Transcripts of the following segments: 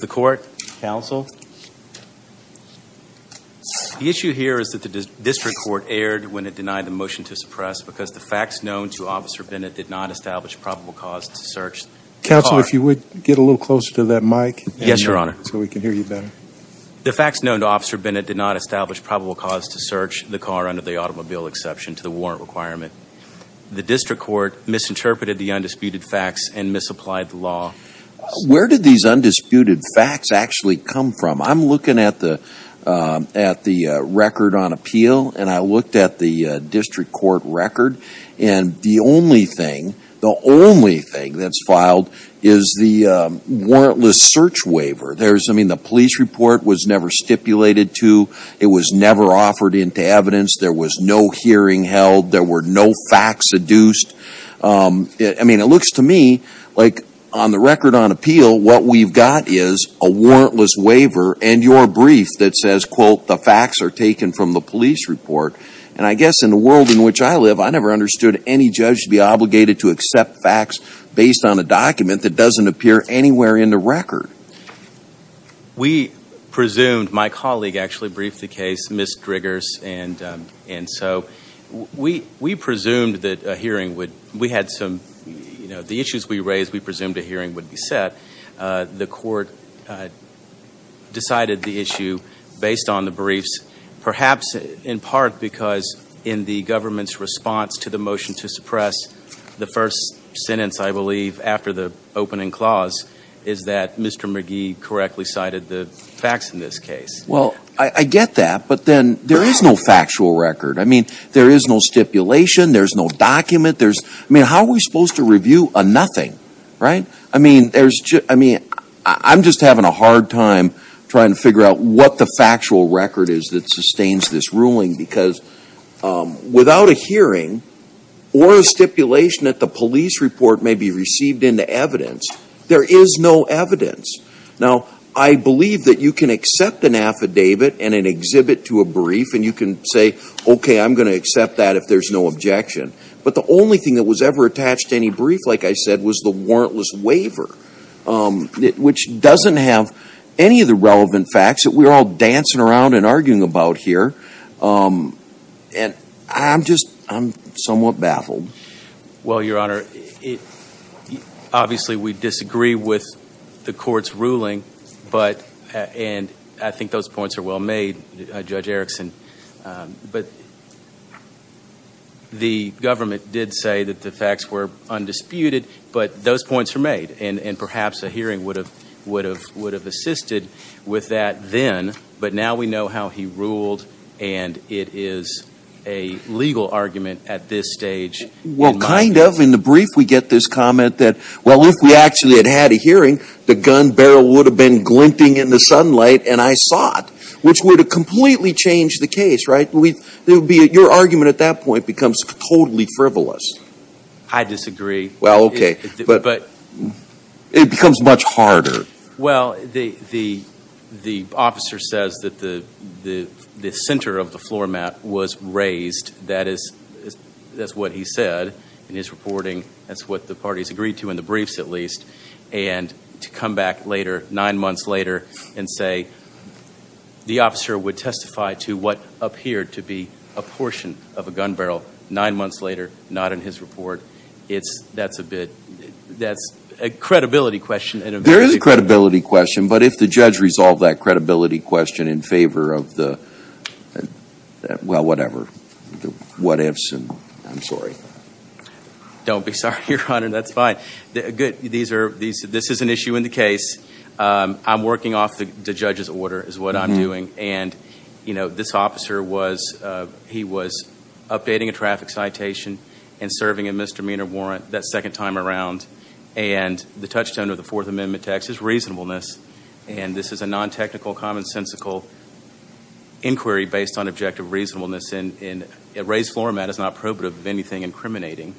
The issue here is that the district court erred when it denied the motion to suppress because the facts known to Officer Bennett did not establish probable cause to search the car under the automobile exception to the warrant requirement. The district court misinterpreted the undisputed facts and misapplied the law. Where did these undisputed facts actually come from? I'm looking at the record on appeal and I looked at the district court record and the only thing, the only thing that's filed is the warrantless search waiver. The police report was never stipulated to, it was never offered into evidence, there was no hearing held, there were no facts seduced. I mean, it looks to me like on the record on appeal, what we've got is a warrantless waiver and your brief that says, quote, the facts are taken from the police report. And I guess in the world in which I live, I never understood any judge to be obligated to accept facts based on a document that doesn't appear anywhere in the record. We presumed, my colleague actually briefed the case, Ms. Griggers, and so we presumed that a hearing would, we had some, you know, the issues we raised, we presumed a hearing would be set. The court decided the issue based on the briefs, perhaps in part because in the government's response to the motion to suppress the first sentence, I believe, after the opening clause is that Mr. McGee correctly cited the facts in this case. Well, I get that, but then there is no factual record. I mean, there is no stipulation, there's no document, there's, I mean, how are we supposed to review a nothing, right? I mean, there's just, I mean, I'm just having a hard time trying to figure out what the factual record is that sustains this ruling because without a hearing or a stipulation that the police report may be received into evidence, there is no evidence. Now, I believe that you can accept an affidavit and an exhibit to a brief and you can say, okay, I'm going to accept that if there's no objection. But the only thing that was ever attached to any brief, like I said, was the warrantless waiver, which doesn't have any of the relevant facts that we're all dancing around and arguing about here, and I'm just, I'm somewhat baffled. Well, Your Honor, obviously we disagree with the court's ruling, but, and I think those were, the government did say that the facts were undisputed, but those points were made, and perhaps a hearing would have assisted with that then, but now we know how he ruled and it is a legal argument at this stage. Well, kind of. In the brief we get this comment that, well, if we actually had had a hearing, the gun barrel would have been glinting in the sunlight and I saw it, which would have completely changed the case, right? Your argument at that point becomes totally frivolous. I disagree. Well, okay. But. But. It becomes much harder. Well, the officer says that the center of the floor mat was raised, that is, that's what he said in his reporting, that's what the parties agreed to in the briefs at least, and to come back later, nine months later, and say the officer would testify to what appeared to be a portion of a gun barrel nine months later, not in his report, it's, that's a bit, that's a credibility question. There is a credibility question, but if the judge resolved that credibility question in favor of the, well, whatever, what ifs, I'm sorry. Don't be sorry, Your Honor, that's fine. These are, this is an issue in the case. I'm working off the judge's order is what I'm doing, and, you know, this officer was, he was updating a traffic citation and serving a misdemeanor warrant that second time around, and the touchstone of the Fourth Amendment text is reasonableness, and this is a non-technical commonsensical inquiry based on objective reasonableness, and a raised floor mat is not probative of anything incriminating,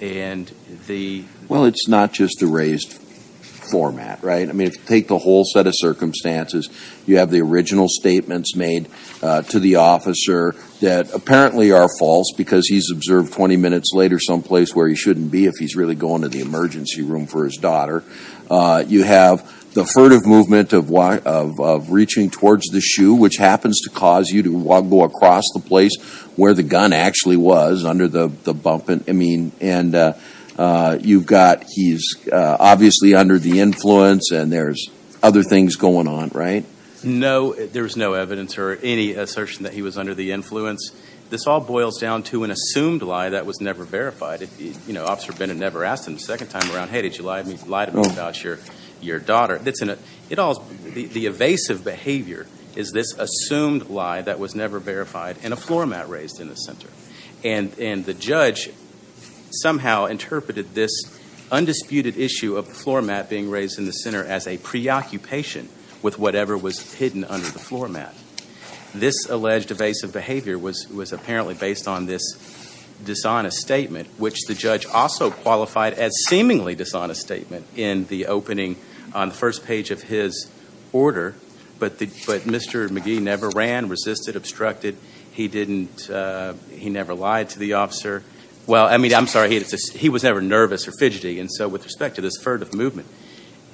and the. Well, it's not just a raised floor mat, right, I mean, if you take the whole set of circumstances, you have the original statements made to the officer that apparently are false because he's observed 20 minutes later someplace where he shouldn't be if he's really going to the emergency room for his daughter. You have the furtive movement of reaching towards the shoe, which happens to cause you to go across the place where the gun actually was under the bump, and, I mean, and you've got he's obviously under the influence, and there's other things going on, right? No, there's no evidence or any assertion that he was under the influence. This all boils down to an assumed lie that was never verified, you know, Officer Bennett never asked him the second time around, hey, did you lie to me about your, your daughter? It's in a, it all, the evasive behavior is this assumed lie that was never verified and a floor mat raised in the center, and, and the judge somehow interpreted this undisputed issue of the floor mat being raised in the center as a preoccupation with whatever was hidden under the floor mat. This alleged evasive behavior was, was apparently based on this dishonest statement, which the first page of his order, but the, but Mr. McGee never ran, resisted, obstructed. He didn't, he never lied to the officer. Well, I mean, I'm sorry. He was never nervous or fidgety, and so with respect to this furtive movement,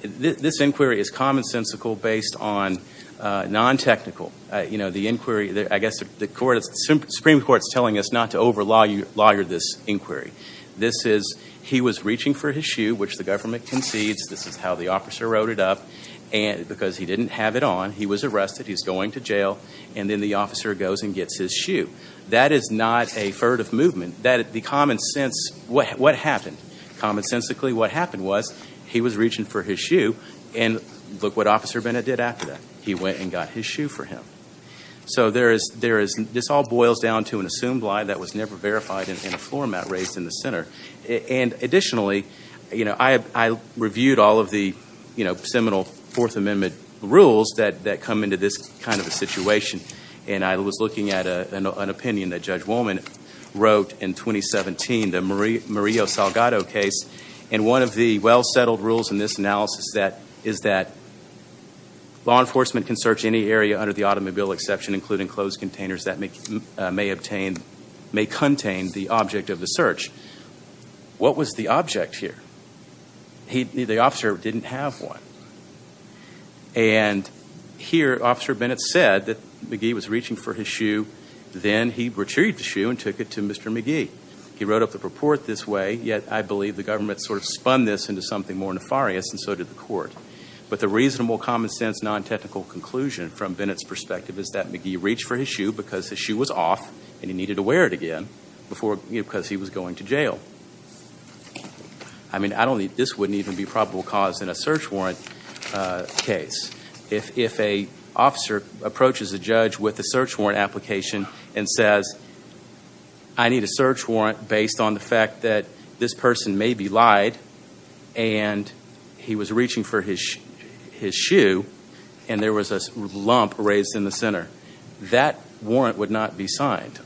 this inquiry is commonsensical based on non-technical, you know, the inquiry, I guess the Supreme Court's telling us not to over lawyer this inquiry. This is, he was reaching for his shoe, which the government concedes, this is how the officer wrote it up, and, because he didn't have it on, he was arrested, he's going to jail, and then the officer goes and gets his shoe. That is not a furtive movement, that, the common sense, what, what happened, commonsensically what happened was, he was reaching for his shoe, and look what Officer Bennett did after that. He went and got his shoe for him. So there is, there is, this all boils down to an assumed lie that was never verified and a floor mat raised in the center. And additionally, you know, I reviewed all of the, you know, seminal Fourth Amendment rules that come into this kind of a situation, and I was looking at an opinion that Judge Woolman wrote in 2017, the Maria Salgado case, and one of the well-settled rules in this analysis that, is that law enforcement can search any area under the automobile exception including closed containers that may obtain, may contain the object of the search. What was the object here? He, the officer didn't have one. And here, Officer Bennett said that McGee was reaching for his shoe, then he retrieved the shoe and took it to Mr. McGee. He wrote up the report this way, yet I believe the government sort of spun this into something more nefarious, and so did the court. But the reasonable, common sense, non-technical conclusion from Bennett's perspective is that he reached for his shoe because his shoe was off and he needed to wear it again before, you know, because he was going to jail. I mean, I don't think, this wouldn't even be probable cause in a search warrant case. If an officer approaches a judge with a search warrant application and says, I need a search warrant based on the fact that this person maybe lied and he was reaching for his shoe and there was a lump raised in the center, that warrant would not be signed.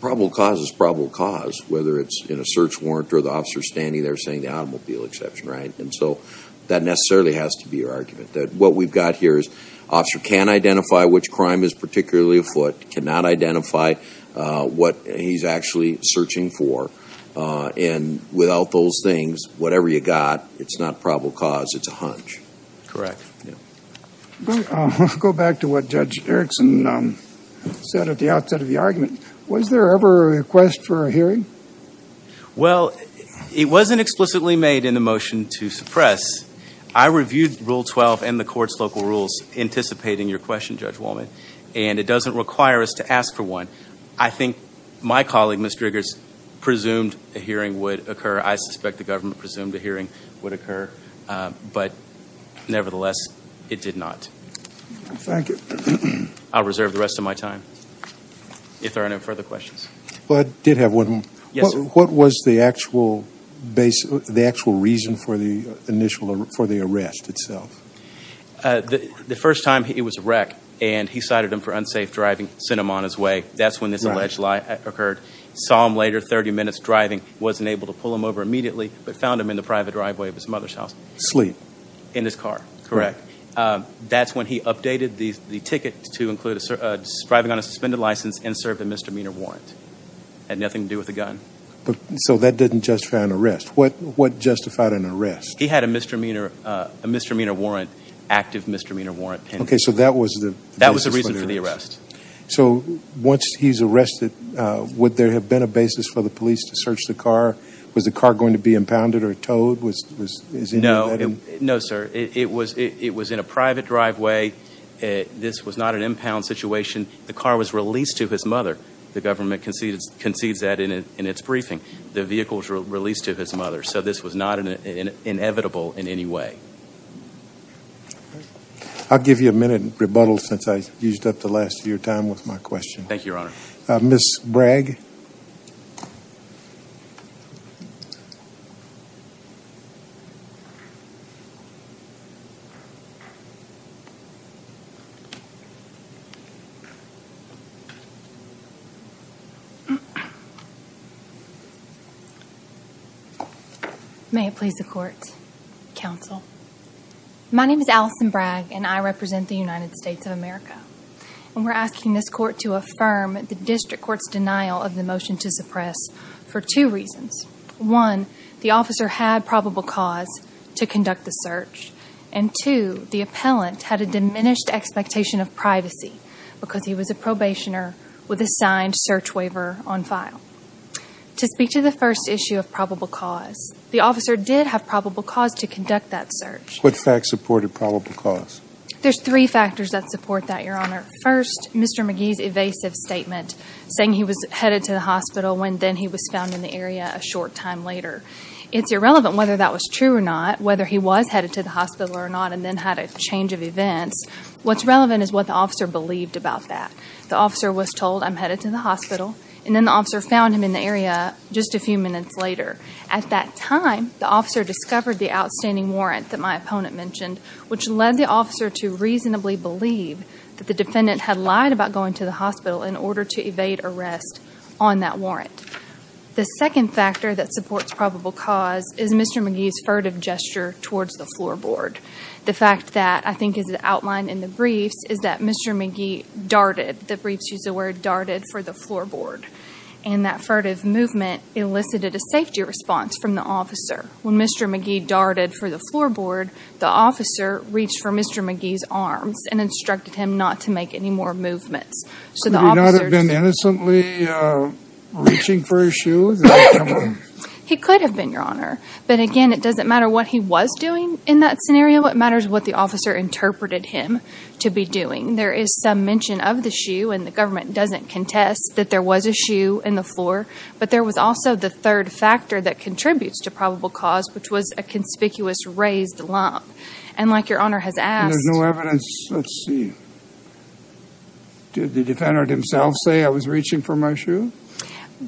Probable cause is probable cause, whether it's in a search warrant or the officer standing there saying the automobile exception, right? And so, that necessarily has to be your argument, that what we've got here is, the officer can identify which crime is particularly afoot, cannot identify what he's actually searching for, and without those things, whatever you got, it's not probable cause, it's a hunch. Correct. Yeah. Go back to what Judge Erickson said at the outset of the argument. Was there ever a request for a hearing? Well, it wasn't explicitly made in the motion to suppress. I reviewed Rule 12 and the court's local rules anticipating your question, Judge Wolman, and it doesn't require us to ask for one. I think my colleague, Mr. Griggers, presumed a hearing would occur. I suspect the government presumed a hearing would occur, but nevertheless, it did not. Thank you. I'll reserve the rest of my time, if there are no further questions. But I did have one. Yes. What was the actual reason for the arrest itself? The first time, he was a wreck, and he cited him for unsafe driving, sent him on his way. That's when this alleged lie occurred. Saw him later, 30 minutes driving, wasn't able to pull him over immediately, but found him in the private driveway of his mother's house. Sleep. In his car, correct. That's when he updated the ticket to include driving on a suspended license and served a misdemeanor warrant. It had nothing to do with a gun. So that didn't justify an arrest. What justified an arrest? He had a misdemeanor warrant, active misdemeanor warrant. Okay, so that was the reason for the arrest. So once he's arrested, would there have been a basis for the police to search the car? Was the car going to be impounded or towed? No, sir. It was in a private driveway. This was not an impound situation. The car was released to his mother. The government concedes that in its briefing. The vehicle was released to his mother. So this was not inevitable in any way. I'll give you a minute and rebuttal since I used up the last of your time with my question. Thank you, Your Honor. Ms. Bragg? Thank you. May it please the Court, Counsel. My name is Allison Bragg, and I represent the United States of America, and we're asking this Court to affirm the district court's denial of the motion to suppress for two reasons. One, the officer had probable cause to conduct the search, and two, the appellant had a diminished expectation of privacy because he was a probationer with a signed search waiver on file. To speak to the first issue of probable cause, the officer did have probable cause to conduct that search. What facts supported probable cause? There's three factors that support that, Your Honor. First, Mr. McGee's evasive statement saying he was headed to the hospital when then he was found in the area a short time later. It's irrelevant whether that was true or not, whether he was headed to the hospital or not, and then had a change of events. What's relevant is what the officer believed about that. The officer was told, I'm headed to the hospital, and then the officer found him in the area just a few minutes later. At that time, the officer discovered the outstanding warrant that my opponent mentioned, which led the officer to reasonably believe that the defendant had lied about going to the hospital in order to evade arrest on that warrant. The second factor that supports probable cause is Mr. McGee's furtive gesture towards the floorboard. The fact that I think is outlined in the briefs is that Mr. McGee darted, the briefs use the word darted, for the floorboard, and that furtive movement elicited a safety response from the officer. When Mr. McGee darted for the floorboard, the officer reached for Mr. McGee's arms and instructed him not to make any more movements. Could he not have been innocently reaching for his shoes? He could have been, Your Honor, but again, it doesn't matter what he was doing in that scenario. What matters is what the officer interpreted him to be doing. There is some mention of the shoe, and the government doesn't contest that there was a shoe in the floor, but there was also the third factor that contributes to probable cause, which was a conspicuous raised lump. And like Your Honor has asked... And there's no evidence. Let's see. Did the defendant himself say, I was reaching for my shoe?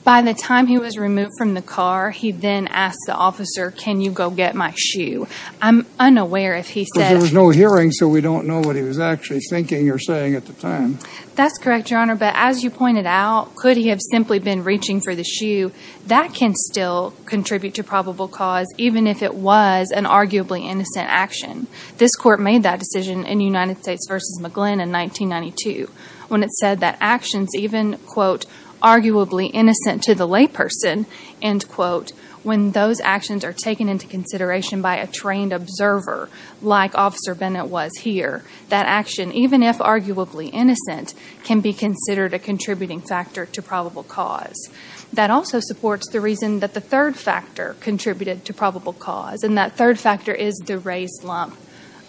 By the time he was removed from the car, he then asked the officer, can you go get my shoe? I'm unaware if he said... Because there was no hearing, so we don't know what he was actually thinking or saying at the time. That's correct, Your Honor, but as you pointed out, could he have simply been reaching for the shoe? That can still contribute to probable cause, even if it was an arguably innocent action. This court made that decision in United States v. McGlynn in 1992, when it said that actions even, quote, arguably innocent to the layperson, end quote, when those actions are taken into consideration by a trained observer, like Officer Bennett was here, that action, even if arguably innocent, can be considered a contributing factor to probable cause. That also supports the reason that the third factor contributed to probable cause, and that third factor is the raised lump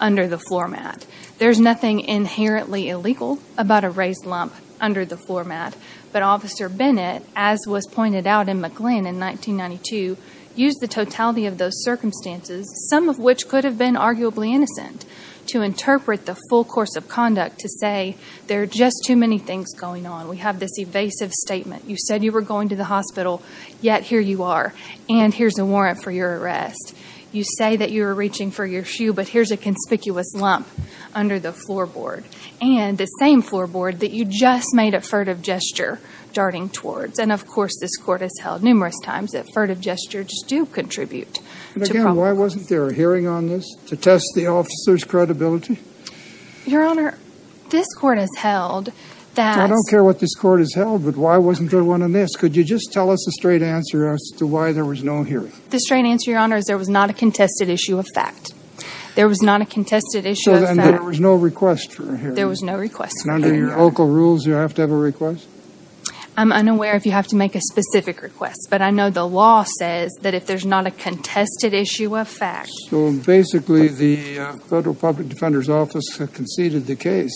under the floor mat. There's nothing inherently illegal about a raised lump under the floor mat, but Officer Bennett, as was pointed out in McGlynn in 1992, used the totality of those circumstances, some of which could have been arguably innocent, to interpret the full course of conduct to say there are just too many things going on. We have this evasive statement. You said you were going to the hospital, yet here you are, and here's a warrant for your arrest. You say that you were reaching for your shoe, but here's a conspicuous lump under the floorboard, and the same floorboard that you just made a furtive gesture darting towards. And of course, this court has held numerous times that furtive gestures do contribute to probable cause. And again, why wasn't there a hearing on this, to test the officer's credibility? Your Honor, this court has held that... I don't care what this court has held, but why wasn't there one on this? Could you just tell us the straight answer as to why there was no hearing? The straight answer, Your Honor, is there was not a contested issue of fact. There was not a contested issue of fact. So then there was no request for a hearing? There was no request for a hearing. And under your local rules, you have to have a request? I'm unaware if you have to make a specific request, but I know the law says that if there's not a contested issue of fact. So basically, the Federal Public Defender's Office conceded the case.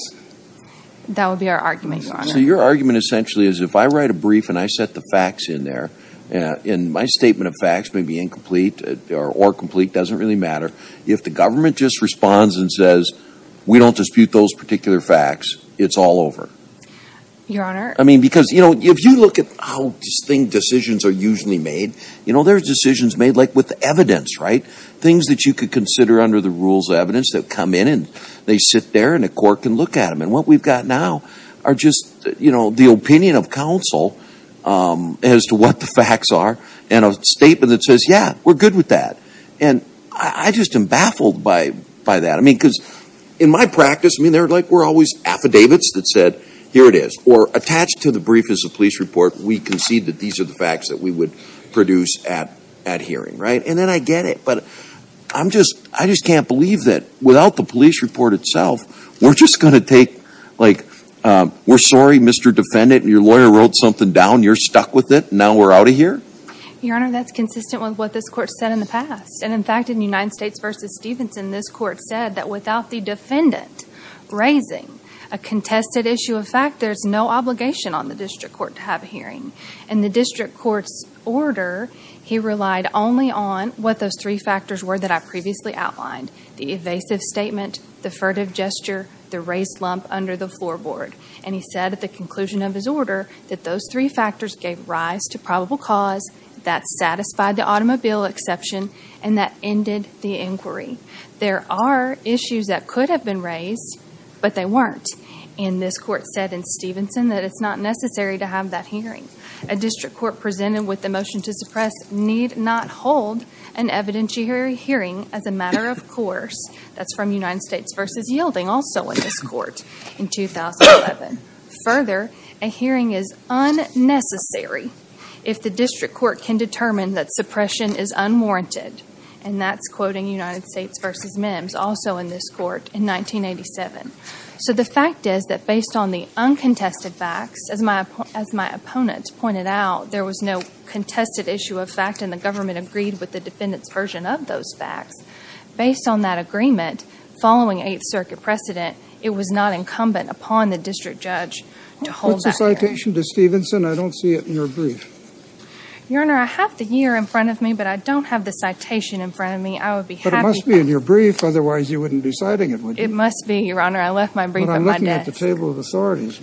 That would be our argument, Your Honor. So your argument, essentially, is if I write a brief and I set the facts in there, and my statement of facts may be incomplete or complete, doesn't really matter. If the government just responds and says, we don't dispute those particular facts, it's all over. Your Honor... I mean, because, you know, if you look at how distinct decisions are usually made, you know, like with evidence, right? Things that you could consider under the rules of evidence that come in and they sit there and a court can look at them. And what we've got now are just, you know, the opinion of counsel as to what the facts are and a statement that says, yeah, we're good with that. And I just am baffled by that. I mean, because in my practice, I mean, they're like, we're always affidavits that said, here it is. Or attached to the brief is a police report. We concede that these are the facts that we would produce at hearing, right? And then I get it. But I'm just, I just can't believe that without the police report itself, we're just going to take, like, we're sorry, Mr. Defendant, your lawyer wrote something down. You're stuck with it. Now we're out of here? Your Honor, that's consistent with what this Court said in the past. And in fact, in United States v. Stevenson, this Court said that without the defendant raising a contested issue of fact, there's no obligation on the district court to have a hearing. In the district court's order, he relied only on what those three factors were that I previously outlined. The evasive statement, the furtive gesture, the raised lump under the floorboard. And he said at the conclusion of his order that those three factors gave rise to probable cause that satisfied the automobile exception and that ended the inquiry. There are issues that could have been raised, but they weren't. And this Court said in Stevenson that it's not necessary to have that hearing. A district court presented with the motion to suppress need not hold an evidentiary hearing as a matter of course. That's from United States v. Yielding, also in this Court, in 2011. Further, a hearing is unnecessary if the district court can determine that suppression is unwarranted. And that's quoting United States v. Mims, also in this Court, in 1987. So the fact is that based on the uncontested facts, as my opponent pointed out, there was no contested issue of fact and the government agreed with the defendant's version of those facts. Based on that agreement, following 8th Circuit precedent, it was not incumbent upon the district judge to hold that hearing. What's the citation to Stevenson? I don't see it in your brief. Your Honor, I have the year in front of me, but I don't have the citation in front of me. I would be happy to... But it must be in your brief. Otherwise, you wouldn't be citing it, would you? It must be, Your Honor. I left my brief at my desk. Well, I'm looking at the table of authorities.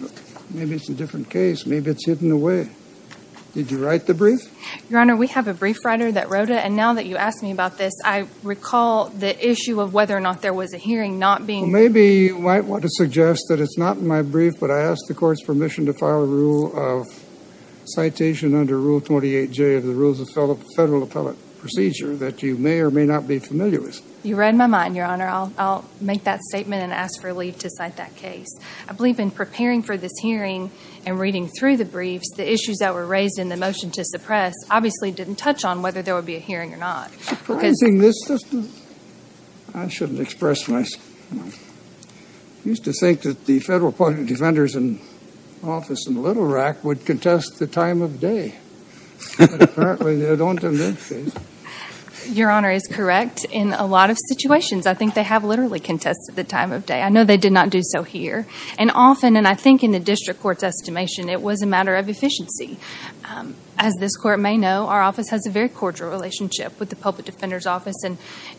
Maybe it's a different case. Maybe it's hidden away. Did you write the brief? Your Honor, we have a brief writer that wrote it. And now that you ask me about this, I recall the issue of whether or not there was a hearing not being... Well, maybe you might want to suggest that it's not in my brief, but I ask the Court's under Rule 28J of the Rules of Federal Appellate Procedure that you may or may not be familiar with. You read my mind, Your Honor. I'll make that statement and ask for leave to cite that case. I believe in preparing for this hearing and reading through the briefs, the issues that were raised in the motion to suppress obviously didn't touch on whether there would be a hearing or not. Because... Surprising, this doesn't... I shouldn't express myself. I used to think that the Federal Defenders Office in Little Rock would contest the time of day. But apparently, they don't in this case. Your Honor is correct. In a lot of situations, I think they have literally contested the time of day. I know they did not do so here. And often, and I think in the District Court's estimation, it was a matter of efficiency. As this Court may know, our office has a very cordial relationship with the Public Defenders Office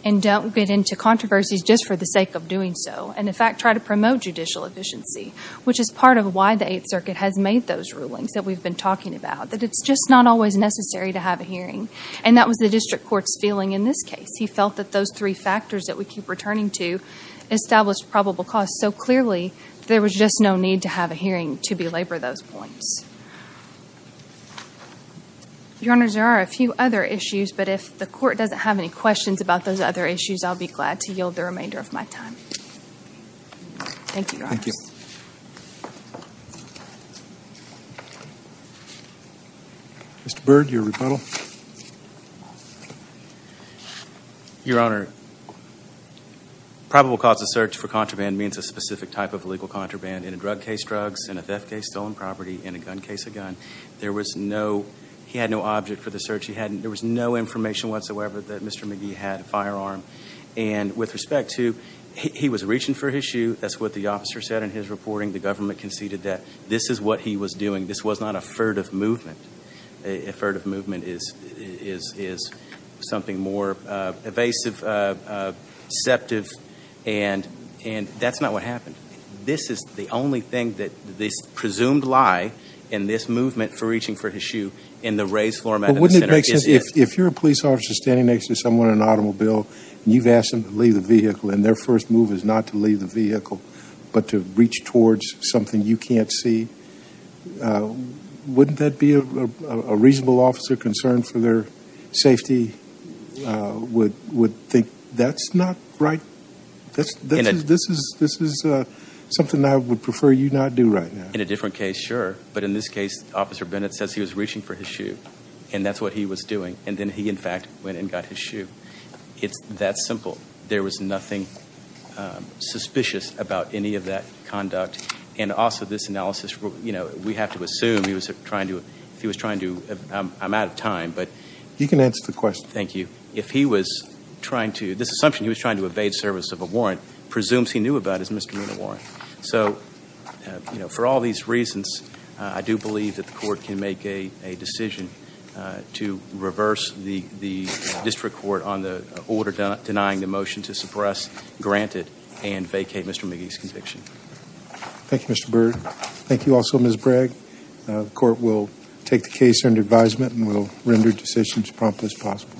and don't get into controversies just for the sake of doing so, and in fact, try to promote judicial efficiency, which is part of why the Eighth Circuit has made those rulings that we've been talking about, that it's just not always necessary to have a hearing. And that was the District Court's feeling in this case. He felt that those three factors that we keep returning to established probable cause so clearly there was just no need to have a hearing to belabor those points. Your Honor, there are a few other issues, but if the Court doesn't have any questions about those other issues, I'll be glad to yield the remainder of my time. Thank you, Your Honor. Thank you. Mr. Byrd, your rebuttal. Your Honor, probable cause of search for contraband means a specific type of illegal contraband in a drug case, drugs, in a theft case, stolen property, in a gun case, a gun. There was no, he had no object for the search. He hadn't, there was no information whatsoever that Mr. McGee had a firearm. And with respect to, he was reaching for his shoe, that's what the officer said in his reporting, the government conceded that this is what he was doing, this was not a furtive movement. A furtive movement is something more evasive, sceptive, and that's not what happened. This is the only thing that this presumed lie in this movement for reaching for his shoe in the raised floor mat in the center is it. You've asked them to leave the vehicle and their first move is not to leave the vehicle but to reach towards something you can't see. Wouldn't that be a reasonable officer concerned for their safety would think that's not right? This is something I would prefer you not do right now. In a different case, sure. But in this case, Officer Bennett says he was reaching for his shoe and that's what he was doing. And then he, in fact, went and got his shoe. It's that simple. There was nothing suspicious about any of that conduct. And also this analysis, you know, we have to assume he was trying to, I'm out of time, but- You can answer the question. Thank you. If he was trying to, this assumption he was trying to evade service of a warrant presumes he knew about his misdemeanor warrant. So for all these reasons, I do believe that the court can make a decision to reverse the order denying the motion to suppress, grant it, and vacate Mr. McGee's conviction. Thank you, Mr. Byrd. Thank you also, Ms. Bragg. The court will take the case under advisement and will render decisions as promptly as possible.